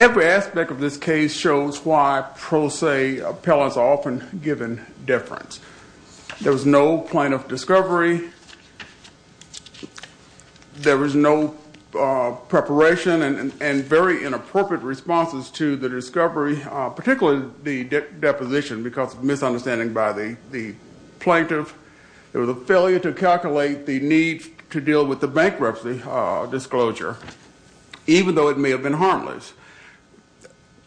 Every aspect of this case shows why pro se appellants are often given deference. There was no plaintiff discovery. There was no preparation and very inappropriate responses to the discovery, particularly the deposition because of misunderstanding by the plaintiff. There was a failure to calculate the need to deal with the bankruptcy disclosure, even though it may have been harmless.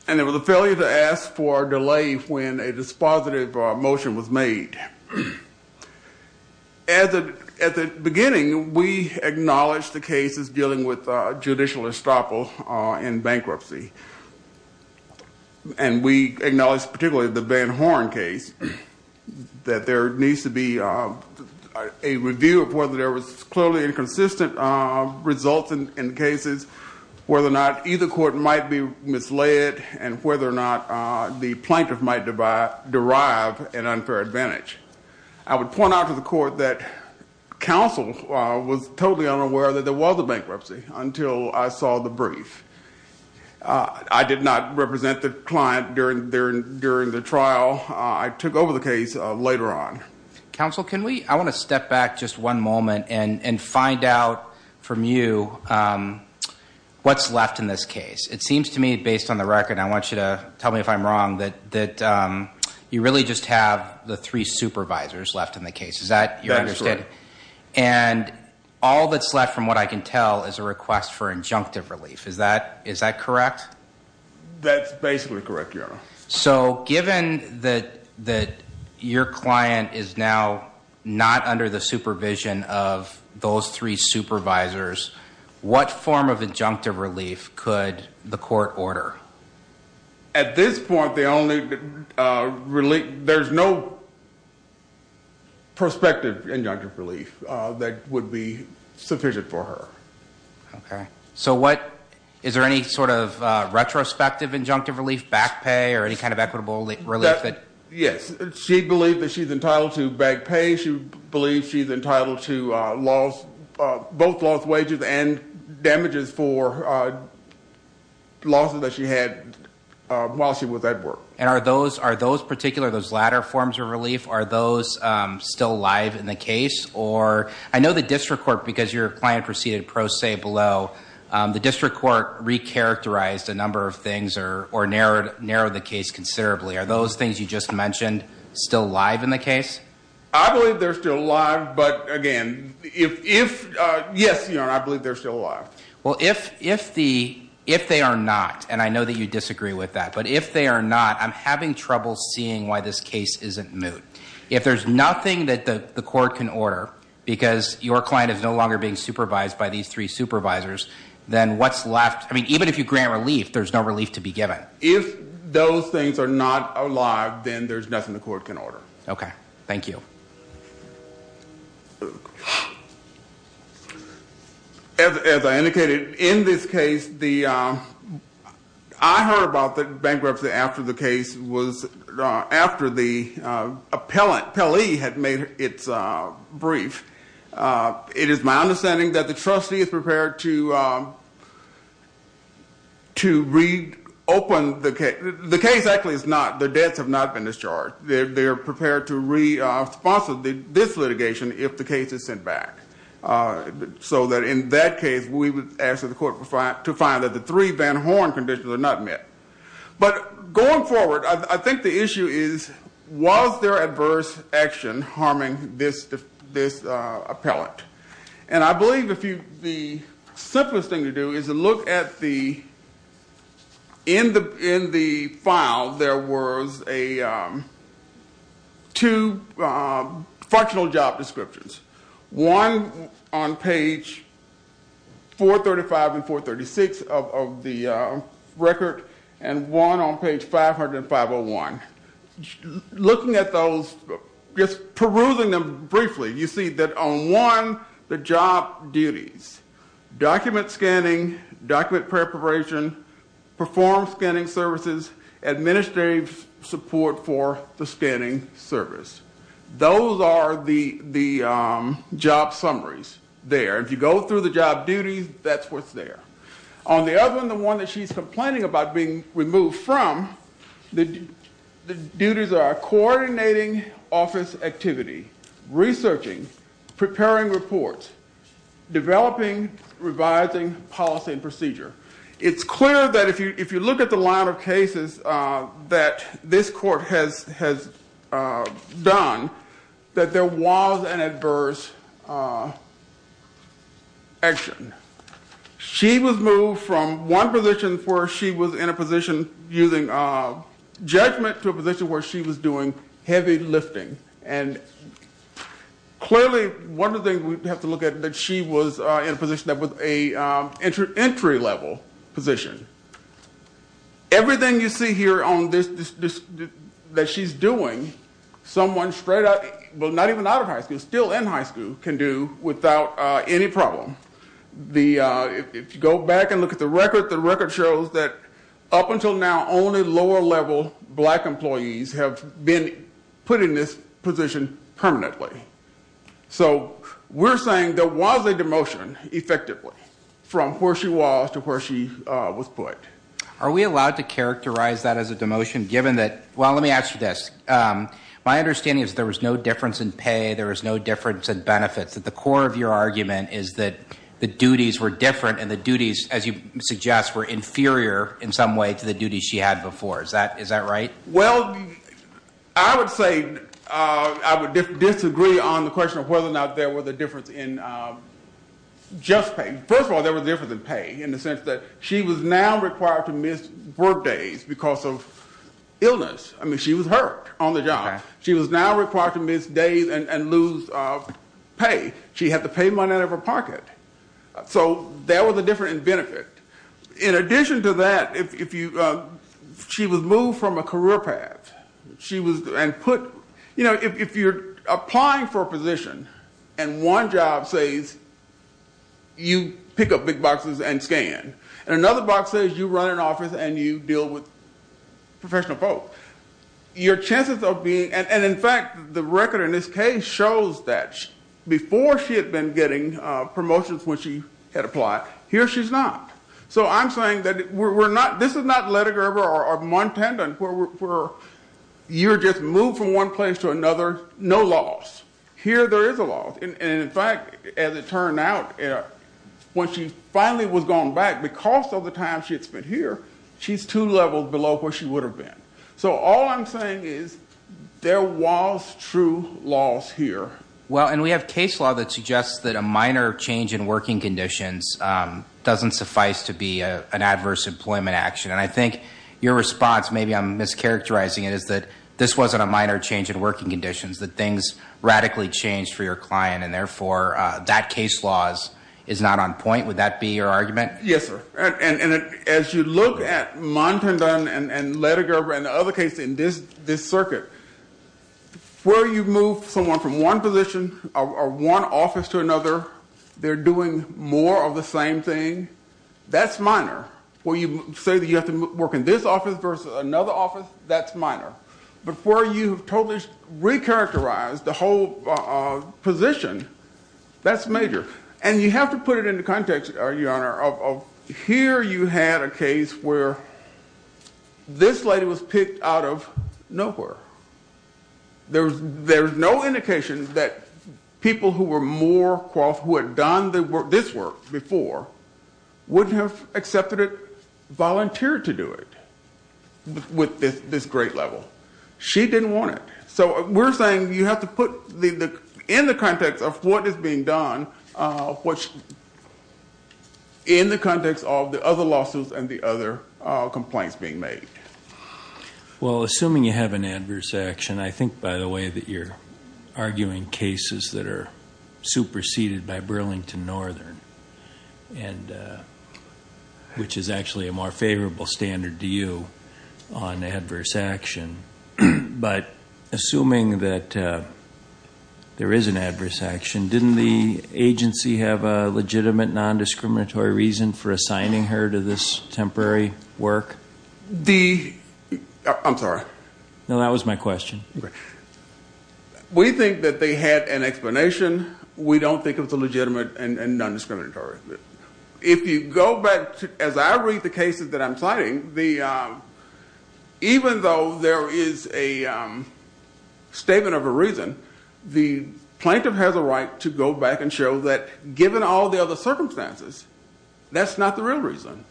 And there was a failure to ask for a delay when a dispositive motion was made. At the beginning, we acknowledged the case as dealing with judicial estoppel in bankruptcy. And we acknowledged, particularly the Van Horn case, that there needs to be a review of whether there was clearly inconsistent results in cases, whether or not either court might be misled, and whether or not the plaintiff might derive an unfair advantage. I would point out to the court that counsel was totally unaware that there was a bankruptcy until I saw the brief. I did not represent the client during the trial. I took over the case later on. Counsel, I want to step back just one moment and find out from you what's left in this case. It seems to me, based on the record, I want you to tell me if I'm wrong, that you really just have the three supervisors left in the case. Is that your understanding? And all that's left from what I can tell is a request for injunctive relief. Is that correct? That's basically correct, Your Honor. So given that your client is now not under the supervision of those three supervisors, what form of injunctive relief could the court order? At this point, there's no prospective injunctive relief that would be sufficient for her. Okay. So is there any sort of retrospective injunctive relief, back pay, or any kind of equitable relief? Yes. She believes that she's entitled to back pay. She believes she's entitled to both lost wages and damages for losses that she had while she was at work. And are those particular, those latter forms of relief, are those still alive in the case? Or I know the district court, because your client proceeded pro se below, the district court recharacterized a number of things or narrowed the case considerably. Are those things you just mentioned still alive in the case? I believe they're still alive, but again, yes, Your Honor, I believe they're still alive. Well, if they are not, and I know that you disagree with that, but if they are not, I'm having trouble seeing why this case isn't moot. If there's nothing that the court can order, because your client is no longer being supervised by these three supervisors, then what's left, I mean, even if you grant relief, there's no relief to be given. If those things are not alive, then there's nothing the court can order. Okay. Thank you. As I indicated, in this case, I heard about the bankruptcy after the case was, after the appellee had made its brief. It is my understanding that the trustee is prepared to reopen the case. The case actually is not, the debts have not been discharged. They're prepared to re-sponsor this litigation if the case is sent back. So that in that case, we would ask that the court to find that the three Van Horn conditions are not met. But going forward, I think the issue is, was there adverse action harming this appellate? And I believe the simplest thing to do is to look at the, in the file, there was a, two functional job descriptions. One on page 435 and 436 of the record, and one on page 505-01. Looking at those, just perusing them briefly, you see that on one, the job duties, document scanning, document preparation, perform scanning services, administrative support for the scanning service. Those are the job summaries there. If you go through the job duties, that's what's there. On the other one, the one that she's complaining about being removed from, the duties are coordinating office activity, researching, preparing reports, developing, revising policy and procedure. It's clear that if you look at the line of cases that this court has done, that there was an adverse action. She was moved from one position where she was in a position using judgment to a position where she was doing heavy lifting. And clearly, one of the things we have to look at, that she was in a position that was an entry level position. Everything you see here on this, that she's doing, someone straight out, not even out of high school, still in high school, can do without any problem. If you go back and look at the record, the record shows that up until now, only lower level black employees have been put in this position permanently. We're saying there was a demotion, effectively, from where she was to where she was put. Are we allowed to characterize that as a demotion, given that, well, let me ask you this. My understanding is there was no difference in pay, there was no difference in benefits. The core of your argument is that the duties were different and the duties, as you suggest, were inferior in some way to the duties she had before. Is that right? I would disagree on the question of whether or not there was a difference in just pay. First of all, there was a difference in pay, in the sense that she was now required to miss work days because of illness. She was hurt on the job. She was now required to miss days and lose pay. She had to pay money out of her pocket. That was a difference in benefit. In addition to that, she was moved from a career path. If you're applying for a position and one job says you pick up big boxes and scan, and another box says you run an office and you deal with professional folk, your chances of being... In fact, the record in this case shows that before she had been getting promotions when she had applied, here she's not. So I'm saying that we're not... You're just moved from one place to another, no loss. Here there is a loss. In fact, as it turned out, when she finally was going back, because of the time she had spent here, she's two levels below where she would have been. So all I'm saying is there was true loss here. Well, and we have case law that suggests that a minor change in working conditions doesn't suffice to be an adverse employment action. And I think your response, maybe I'm mischaracterizing it, is that this wasn't a minor change in working conditions, that things radically changed for your client, and therefore that case law is not on point. Would that be your argument? Yes, sir. And as you look at Montendon and Lettiger and the other cases in this circuit, where you move someone from one position or one office to another, they're doing more of the same thing, that's minor. Where you say that you have to work in this office versus another office, that's minor. But where you totally recharacterize the whole position, that's major. And you have to put it in the context, Your Honor, of here you had a case where this lady was picked out of nowhere. There's no indication that people who were more qualified, who had done this work before, wouldn't have accepted it, volunteered to do it with this great level. She didn't want it. So we're saying you have to put it in the context of what is being done, in the context of the other lawsuits and the other complaints being made. Well, assuming you have an adverse action, I think, by the way, that you're arguing cases that are superseded by Burlington Northern, which is actually a more favorable standard to you on adverse action. But assuming that there is an adverse action, didn't the agency have a legitimate non-discriminatory reason for assigning her to this temporary work? I'm sorry. No, that was my question. We think that they had an explanation. We don't think it was legitimate and non-discriminatory. If you go back, as I read the cases that I'm citing, even though there is a statement of a reason, the plaintiff has a right to go back and show that given all the other circumstances, that's not the real reason.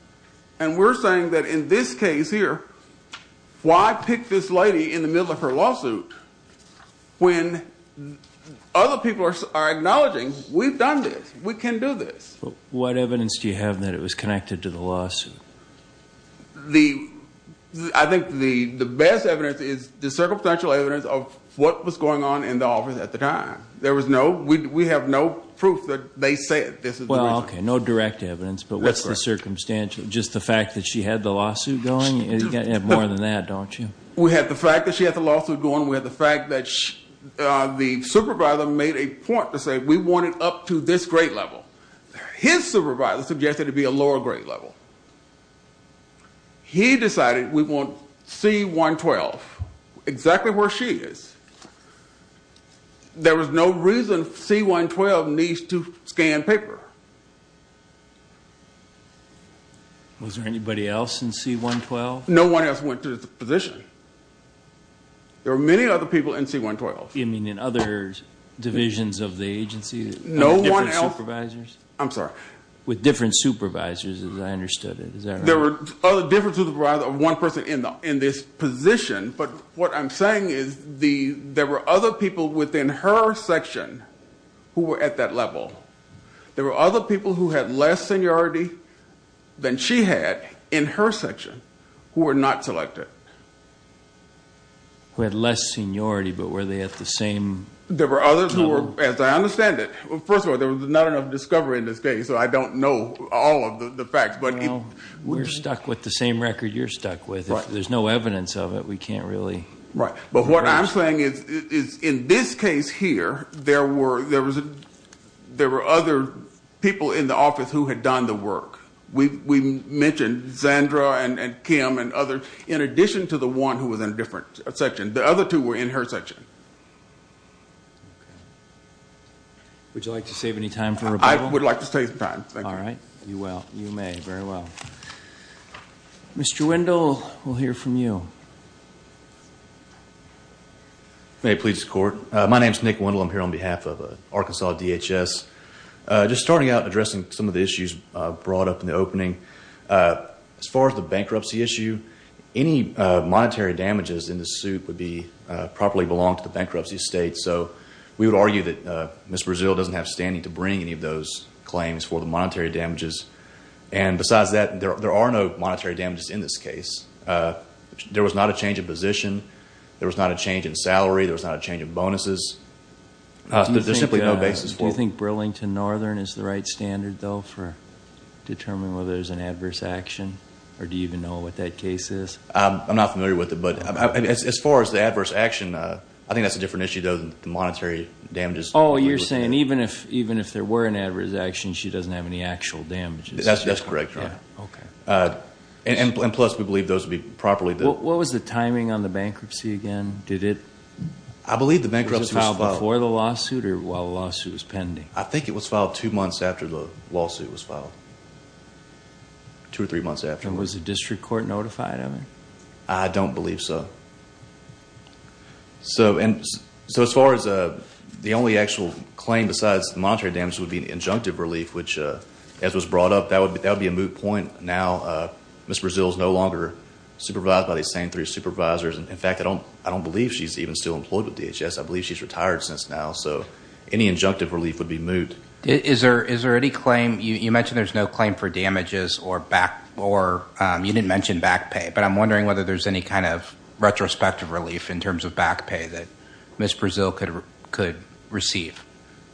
And we're saying that in this case here, why pick this lady in the middle of her lawsuit when other people are acknowledging, we've done this, we can do this. What evidence do you have that it was connected to the lawsuit? I think the best evidence is the circumstantial evidence of what was going on in the office at the time. We have no proof that they said this is the reason. No direct evidence, but what's the circumstantial? Just the fact that she had the lawsuit going? You've got more than that, don't you? We have the fact that she had the lawsuit going. We have the fact that the supervisor made a point to say we want it up to this grade level. His supervisor suggested it be a lower grade level. He decided we want C-112 exactly where she is. There was no reason C-112 needs to scan paper. Was there anybody else in C-112? No one else went to this position. There were many other people in C-112. You mean in other divisions of the agency? No one else. With different supervisors, as I understood it. There were different supervisors of one person in this position, but what I'm saying is there were other people within her section who were at that level. There were other people who had less seniority than she had in her section who were not selected. Who had less seniority, but were they at the same level? There were others who were, as I understand it. First of all, there was not enough discovery in this case, so I don't know all of the facts. We're stuck with the same record you're stuck with. If there's no evidence of it, we can't really... But what I'm saying is in this case here, there were other people in the office who had done the work. We mentioned Zandra and Kim and others, in addition to the one who was in a different section. The other two were in her section. Would you like to save any time for rebuttal? Mr. Wendell, we'll hear from you. My name is Nick Wendell. I'm here on behalf of Arkansas DHS. Just starting out, addressing some of the issues brought up in the opening. As far as the bankruptcy issue, any monetary damages in this suit would properly belong to the bankruptcy estate. We would argue that Ms. Brazil doesn't have standing to bring any of those claims for the monetary damages. Besides that, there are no monetary damages in this case. There was not a change in position. There was not a change in salary. There was not a change in bonuses. There's simply no basis for it. Do you think Burlington Northern is the right standard, though, for determining whether there's an adverse action? Or do you even know what that case is? I'm not familiar with it. As far as the adverse action, I think that's a different issue, though, than the monetary damages. Oh, you're saying even if there were an adverse action, she doesn't have any actual damages? That's correct, Your Honor. What was the timing on the bankruptcy again? Was it filed before the lawsuit or while the lawsuit was pending? I think it was filed two or three months after the lawsuit was filed. Was the district court notified of it? I don't believe so. As far as the only actual claim besides the monetary damages would be an injunctive relief, which as was brought up, that would be a moot point. Now, Ms. Brazil is no longer supervised by these same three supervisors. In fact, I don't believe she's even still employed with DHS. I believe she's retired since now. Any injunctive relief would be moot. Is there any claim? You mentioned there's no claim for damages. You didn't mention back pay, but I'm wondering whether there's any kind of retrospective relief in terms of back pay that Ms. Brazil could receive.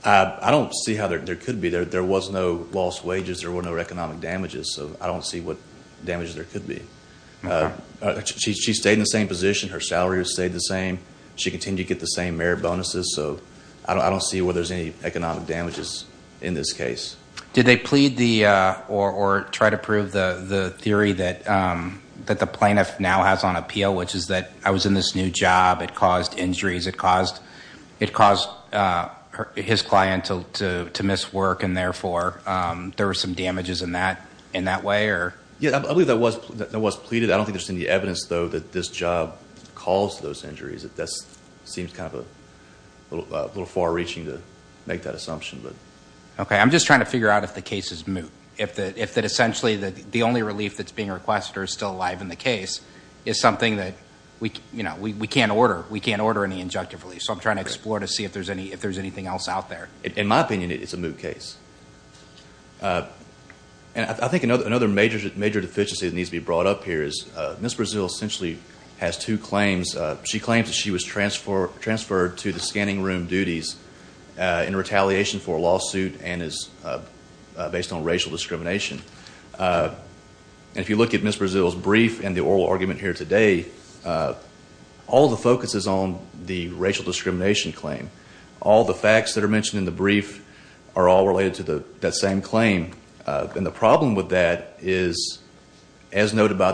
I don't see how there could be. There was no lost wages. There were no economic damages. I don't see what damages there could be. She stayed in the same position. Her salary stayed the same. She continued to get the same merit bonuses. I don't see where there's any economic damages in this case. Did they plead or try to prove the theory that the plaintiff now has on appeal, which is that I was in this new job. It caused injuries. It caused his client to miss work. Therefore, there were some damages in that way? I believe that was pleaded. I don't think there's any evidence, though, that this job caused those injuries. That seems kind of a little far reaching to make that assumption. I'm just trying to figure out if the case is moot. If essentially the only relief that's being requested or is still alive in the case is something that we can't order. We can't order any injunctive relief. I'm trying to explore to see if there's anything else out there. In my opinion, it's a moot case. I think another major deficiency that needs to be brought up here is Ms. Brazil essentially has two claims. She claims that she was transferred to the scanning room duties in retaliation for a lawsuit and is based on racial discrimination. If you look at Ms. Brazil's brief and the oral argument here today, all the focus is on the racial discrimination claim. All the facts that are mentioned in the brief are all related to that same claim. The problem with that is, as noted by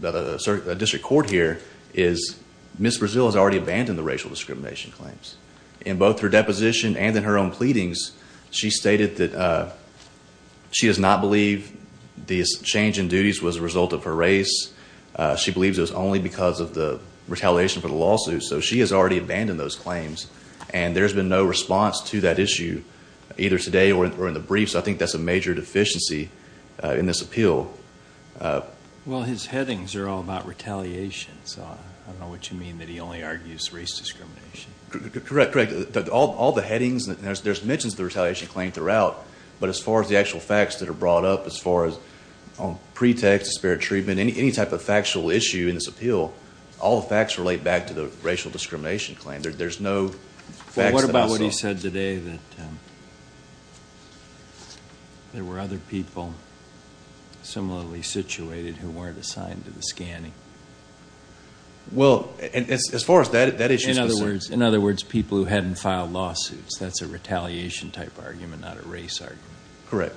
the district court here, is Ms. Brazil has already abandoned the racial discrimination claims. In both her deposition and in her own pleadings, she stated that she does not believe the change in duties was a result of her race. She believes it was only because of the retaliation for the lawsuit. She has already abandoned those claims. There's been no response to that issue either today or in the brief. I think that's a major deficiency in this appeal. His headings are all about retaliation. I don't know what you mean that he only argues race discrimination. Correct. All the headings, there's mentions of the retaliation claim throughout, but as far as the actual facts that are brought up, as far as pretext, disparate treatment, any type of factual issue in this appeal, all the facts relate back to the racial discrimination claim. What about what he said today, that there were other people In other words, people who hadn't filed lawsuits. That's a retaliation type argument, not a race argument. Correct.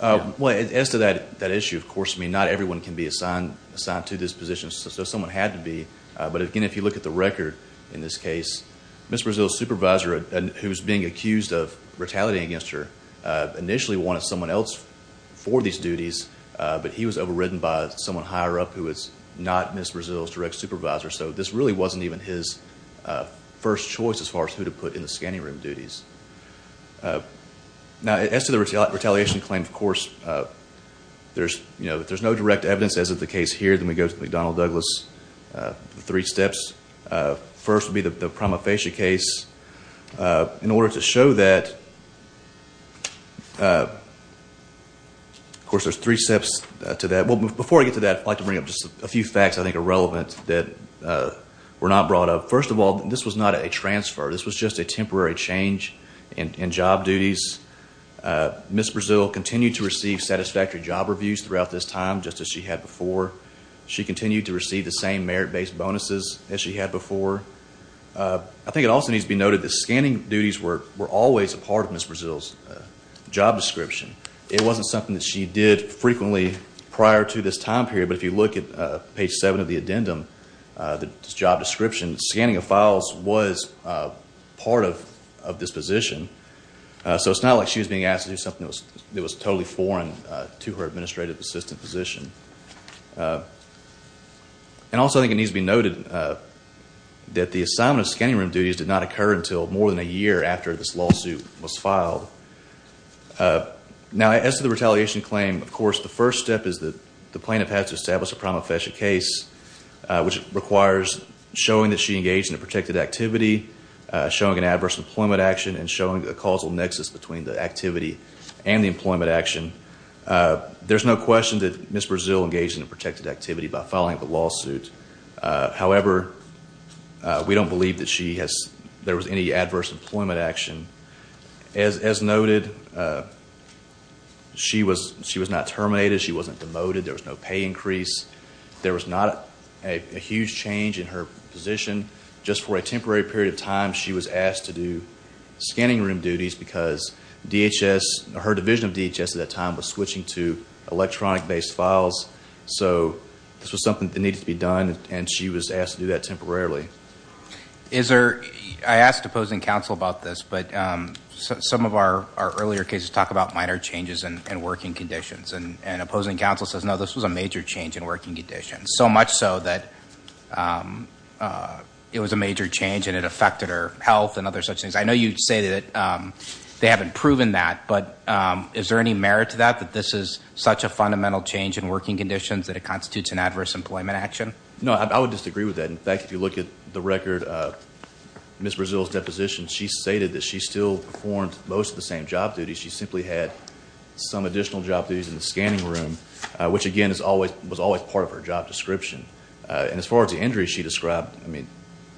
As to that issue, of course, not everyone can be assigned to this position. Someone had to be, but again, if you look at the record in this case, Ms. Brazil's supervisor, who was being accused of retaliating against her, initially wanted someone else for these duties, but he was overridden by someone higher up who was not Ms. Brazil's direct supervisor, so this really wasn't even his first choice as far as who to put in the scanning room duties. As to the retaliation claim, of course, if there's no direct evidence, as is the case here, then we go to McDonnell Douglas, the three steps. First would be the prima facie case. Of course, there's three steps to that. Before I get to that, I'd like to bring up just a few facts I think are relevant that were not brought up. First of all, this was not a transfer. This was just a temporary change in job duties. Ms. Brazil continued to receive satisfactory job reviews throughout this time, just as she had before. She continued to receive the same merit-based bonuses as she had before. I think it also needs to be noted that scanning duties were always a part of Ms. Brazil's job description. It wasn't something that she did frequently prior to this time period, but if you look at page seven of the addendum, the job description, scanning of files was part of this position, so it's not like she was being asked to do something that was totally foreign to her It needs to be noted that the assignment of scanning room duties did not occur until more than a year after this lawsuit was filed. Now, as to the retaliation claim, of course, the first step is that the plaintiff has to establish a prima facie case, which requires showing that she engaged in a protected activity, showing an adverse employment action, and showing a causal nexus between the activity and the employment action. There's no question that Ms. Brazil engaged in a protected activity by filing the lawsuit. However, we don't believe that there was any adverse employment action. As noted, she was not terminated. She wasn't demoted. There was no pay increase. There was not a huge change in her position. Just for a temporary period of time, she was asked to do scanning room duties because DHS, her division of DHS at that time, was switching to electronic based files, so this was something that needed to be done, and she was asked to do that temporarily. I asked opposing counsel about this, but some of our earlier cases talk about minor changes in working conditions, and opposing counsel says, no, this was a major change in working conditions, so much so that it was a major change and it affected her health and other such things. I know you say that they haven't proven that, but is there any merit to that, that this is such a fundamental change in working conditions that it constitutes an adverse employment action? No, I would disagree with that. In fact, if you look at the record of Ms. Brazil's deposition, she stated that she still performed most of the same job duties. She simply had some additional job duties in the scanning room, which again was always part of her job description. As far as the injuries she described,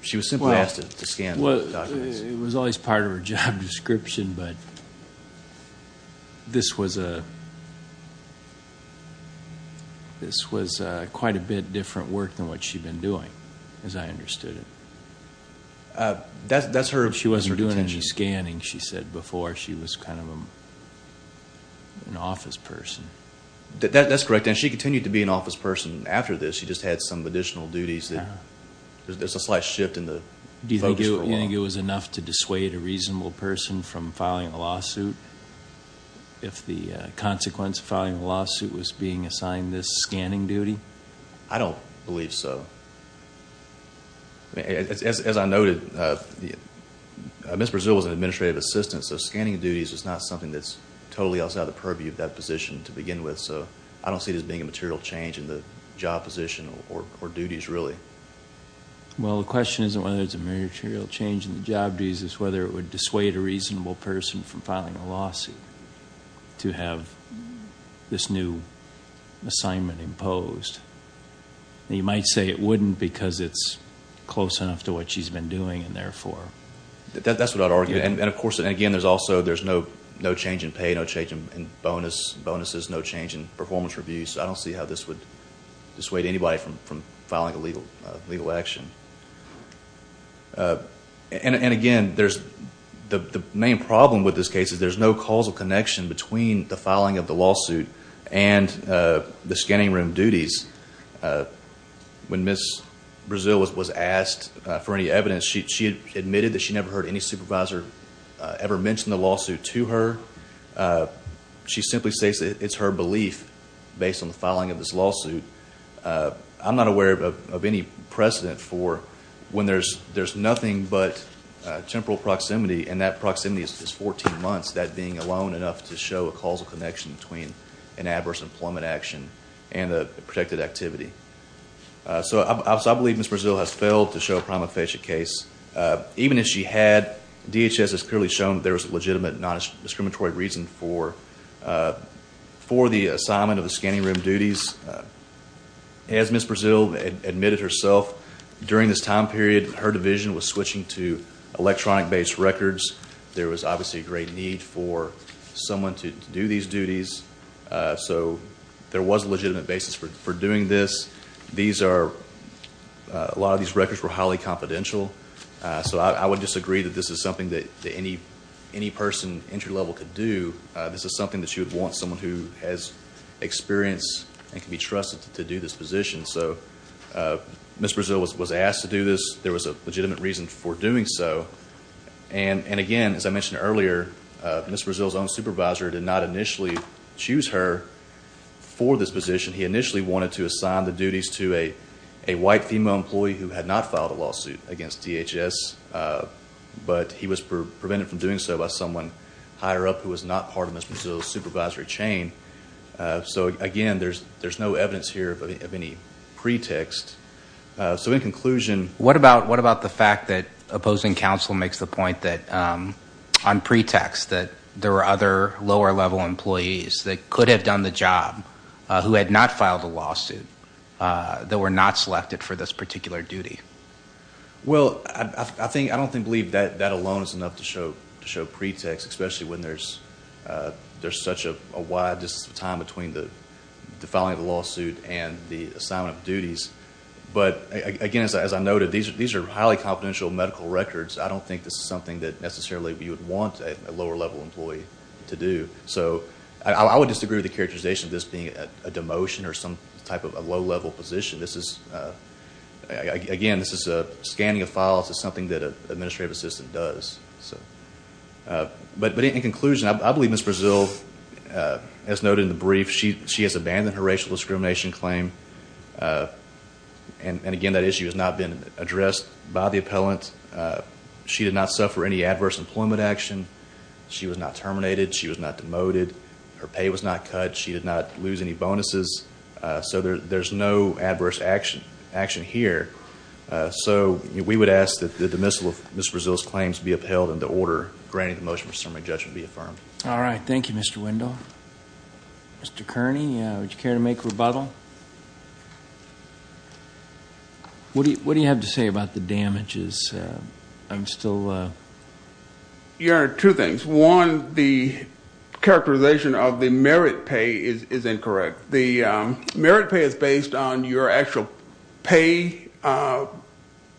she was simply asked to scan documents. It was always part of her job description, but this was quite a bit different work than what she had been doing, as I understood it. That's her intention. She was doing scanning, she said before. She was kind of an office person. That's correct, and she continued to be an office person after this. She just had some additional duties there. There's a slight shift in the focus for a while. Do you think it was enough to dissuade a reasonable person from filing a lawsuit, if the consequence of filing a lawsuit was being assigned this scanning duty? I don't believe so. As I noted, Ms. Brazil was an administrative assistant, so scanning duties is not something that's totally outside the purview of that position to begin with. I don't see this being a material change in the job position or duties, really. Well, the question isn't whether it's a material change in the job duties. It's whether it would dissuade a reasonable person from filing a lawsuit to have this new job because it's close enough to what she's been doing. That's what I'd argue. And again, there's no change in pay, no change in bonuses, no change in performance reviews. I don't see how this would dissuade anybody from filing a legal action. The main problem with this case is there's no causal connection between the filing of the lawsuit and the scanning room duties. When Ms. Brazil was asked for any evidence, she admitted that she never heard any supervisor ever mention the lawsuit to her. She simply says it's her belief based on the filing of this lawsuit. I'm not aware of any precedent for when there's nothing but temporal proximity and that proximity is 14 months, that being alone enough to show a causal connection between an adverse employment action and a protected activity. I believe Ms. Brazil has failed to show a prima facie case. Even if she had, DHS has clearly shown there was a legitimate non-discriminatory reason for the assignment of the scanning room duties. As Ms. Brazil admitted herself, during this time period, her division was switching to electronic based records. There was obviously a great need for someone to do these duties, so there was a legitimate basis for doing this. A lot of these records were highly confidential, so I would disagree that this is something that any person entry level could do. This is something that you would want someone who has experience and can be trusted to do this position. Ms. Brazil was asked to do this. There was a legitimate reason for doing so. Again, as I mentioned earlier, Ms. Brazil's own supervisor did not initially choose her for this position. He initially wanted to assign the duties to a white female employee who had not filed a lawsuit against DHS, but he was So again, there's no evidence here of any pretext. So in conclusion... What about the fact that opposing counsel makes the point that on pretext that there were other lower level employees that could have done the job who had not filed a lawsuit that were not selected for this particular duty? Well, I don't believe that alone is enough to time between the filing of the lawsuit and the assignment of duties. But again, as I noted, these are highly confidential medical records. I don't think this is something that necessarily you would want a lower level employee to do. So I would disagree with the characterization of this being a demotion or some type of a low level position. Again, this is a scanning of files. It's something that an administrative assistant does. But in conclusion, I believe Ms. Brazil, as noted in the brief, she has abandoned her racial discrimination claim. And again, that issue has not been addressed by the appellant. She did not suffer any adverse employment action. She was not terminated. She was not demoted. Her pay was not cut. She did not lose any bonuses. So there's no adverse action here. So we would ask that the demissal of Ms. Brazil's claims be upheld and the order granting the motion for assembly judgment be affirmed. All right. Thank you, Mr. Wendell. Mr. Kearney, would you care to make a rebuttal? What do you have to say about the damages? Your Honor, two things. One, the characterization of the merit pay is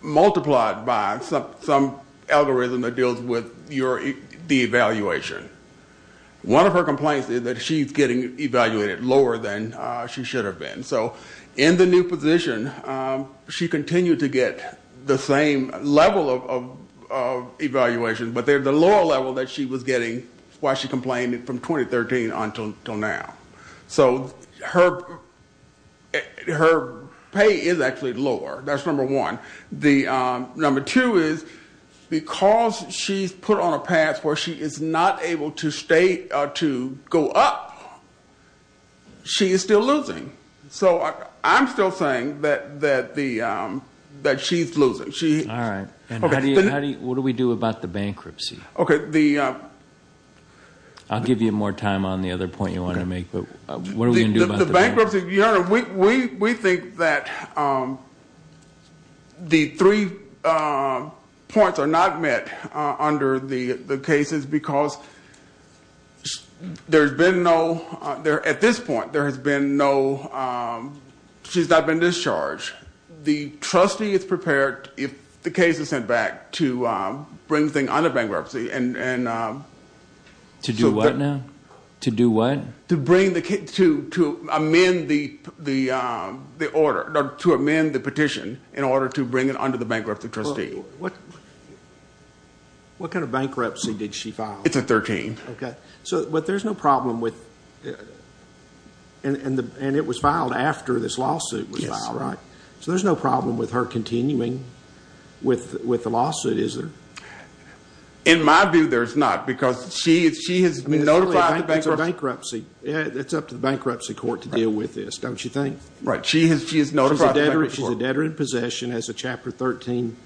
multiplied by some algorithm that deals with the evaluation. One of her complaints is that she's getting evaluated lower than she should have been. So in the new position, she continued to get the same level of evaluation, but they're the lower level that she was getting while she complained from 2013 until now. So her pay is actually lower. That's number one. Number two is because she's put on a pass where she is not able to go up, she is still losing. So I'm still saying that she's losing. What do we do about the bankruptcy? I'll give you more time on the other point you wanted to make, but what are we going to do about the bankruptcy? Your Honor, we think that the three points are not met under the cases because there's been no, at this point, there has been no, she's not been discharged. The trustee is prepared if the case is sent back to bring the thing under bankruptcy. To do what now? To do what? To amend the petition in order to bring it under the bankruptcy trustee. What kind of bankruptcy did she file? It's a 13. Okay. But there's no problem with, and it was filed after this lawsuit was filed, right? So there's no problem with her continuing with the lawsuit, is there? In my view, there's not, because she has notified the bankruptcy. It's up to the bankruptcy court to deal with this, don't you think? Right. She has notified the bankruptcy court. She's a debtor in possession as a Chapter 13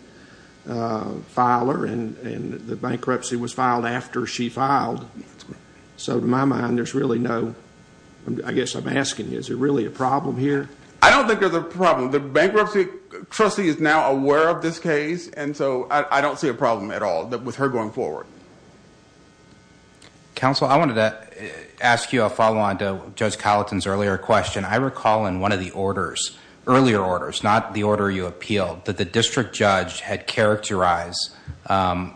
filer, and the bankruptcy was filed after she filed. So in my mind, there's really no, I guess I'm asking, is there really a problem here? I don't think there's a problem. The bankruptcy trustee is now aware of this case, and so I don't see a problem at all with her going forward. Counsel, I wanted to ask you a follow-on to Judge Colleton's earlier question. I recall in one of the your eyes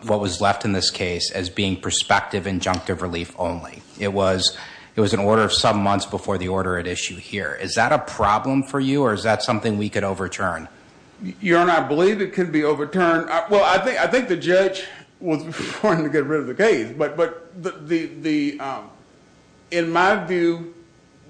what was left in this case as being prospective injunctive relief only. It was an order of some months before the order at issue here. Is that a problem for you, or is that something we could overturn? Your Honor, I believe it could be overturned. Well, I think the judge was wanting to get rid of the case, but in my view,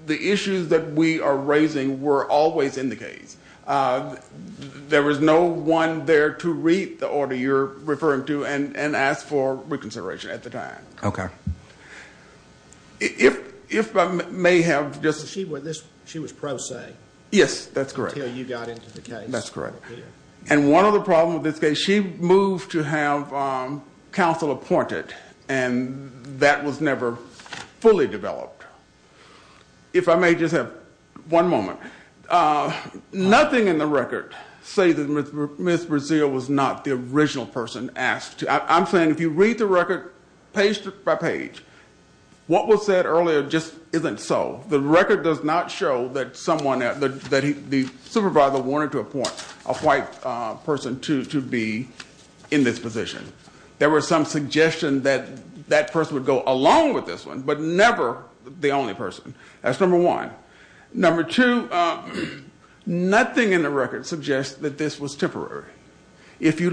the issues that we are raising were always in the case. There was no one there to read the order you're referring to and ask for reconsideration at the time. If I may have just... She was pro se. Yes, that's correct. Until you got into the case. That's correct. And one other problem with this case, she moved to have counsel appointed, and that was never fully developed. If I may just have one moment. Nothing in the record says that Ms. Brazil was not the original person asked to. I'm saying if you read the record page by page, what was said earlier just isn't so. The record does not show that the supervisor wanted to appoint a white person to be in this position. There was some suggestion that that person would go along with this one, but never the only person. That's number one. Number two, nothing in the record suggests that this was temporary. If you're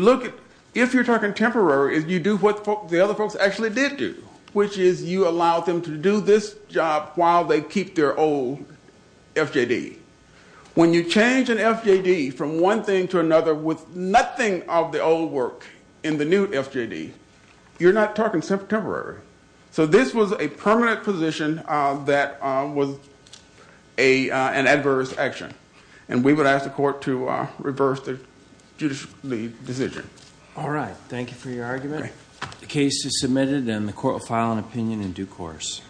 talking temporary, you do what the other folks actually did do, which is you allowed them to do this job while they keep their old FJD. When you change an FJD from one thing to another with nothing of the old work in the new FJD, you're not talking temporary. So this was a permanent position that was an adverse action. And we would ask the court to reverse the judicially decision. All right. Thank you for your argument. The case is submitted and the court will file an opinion in due course.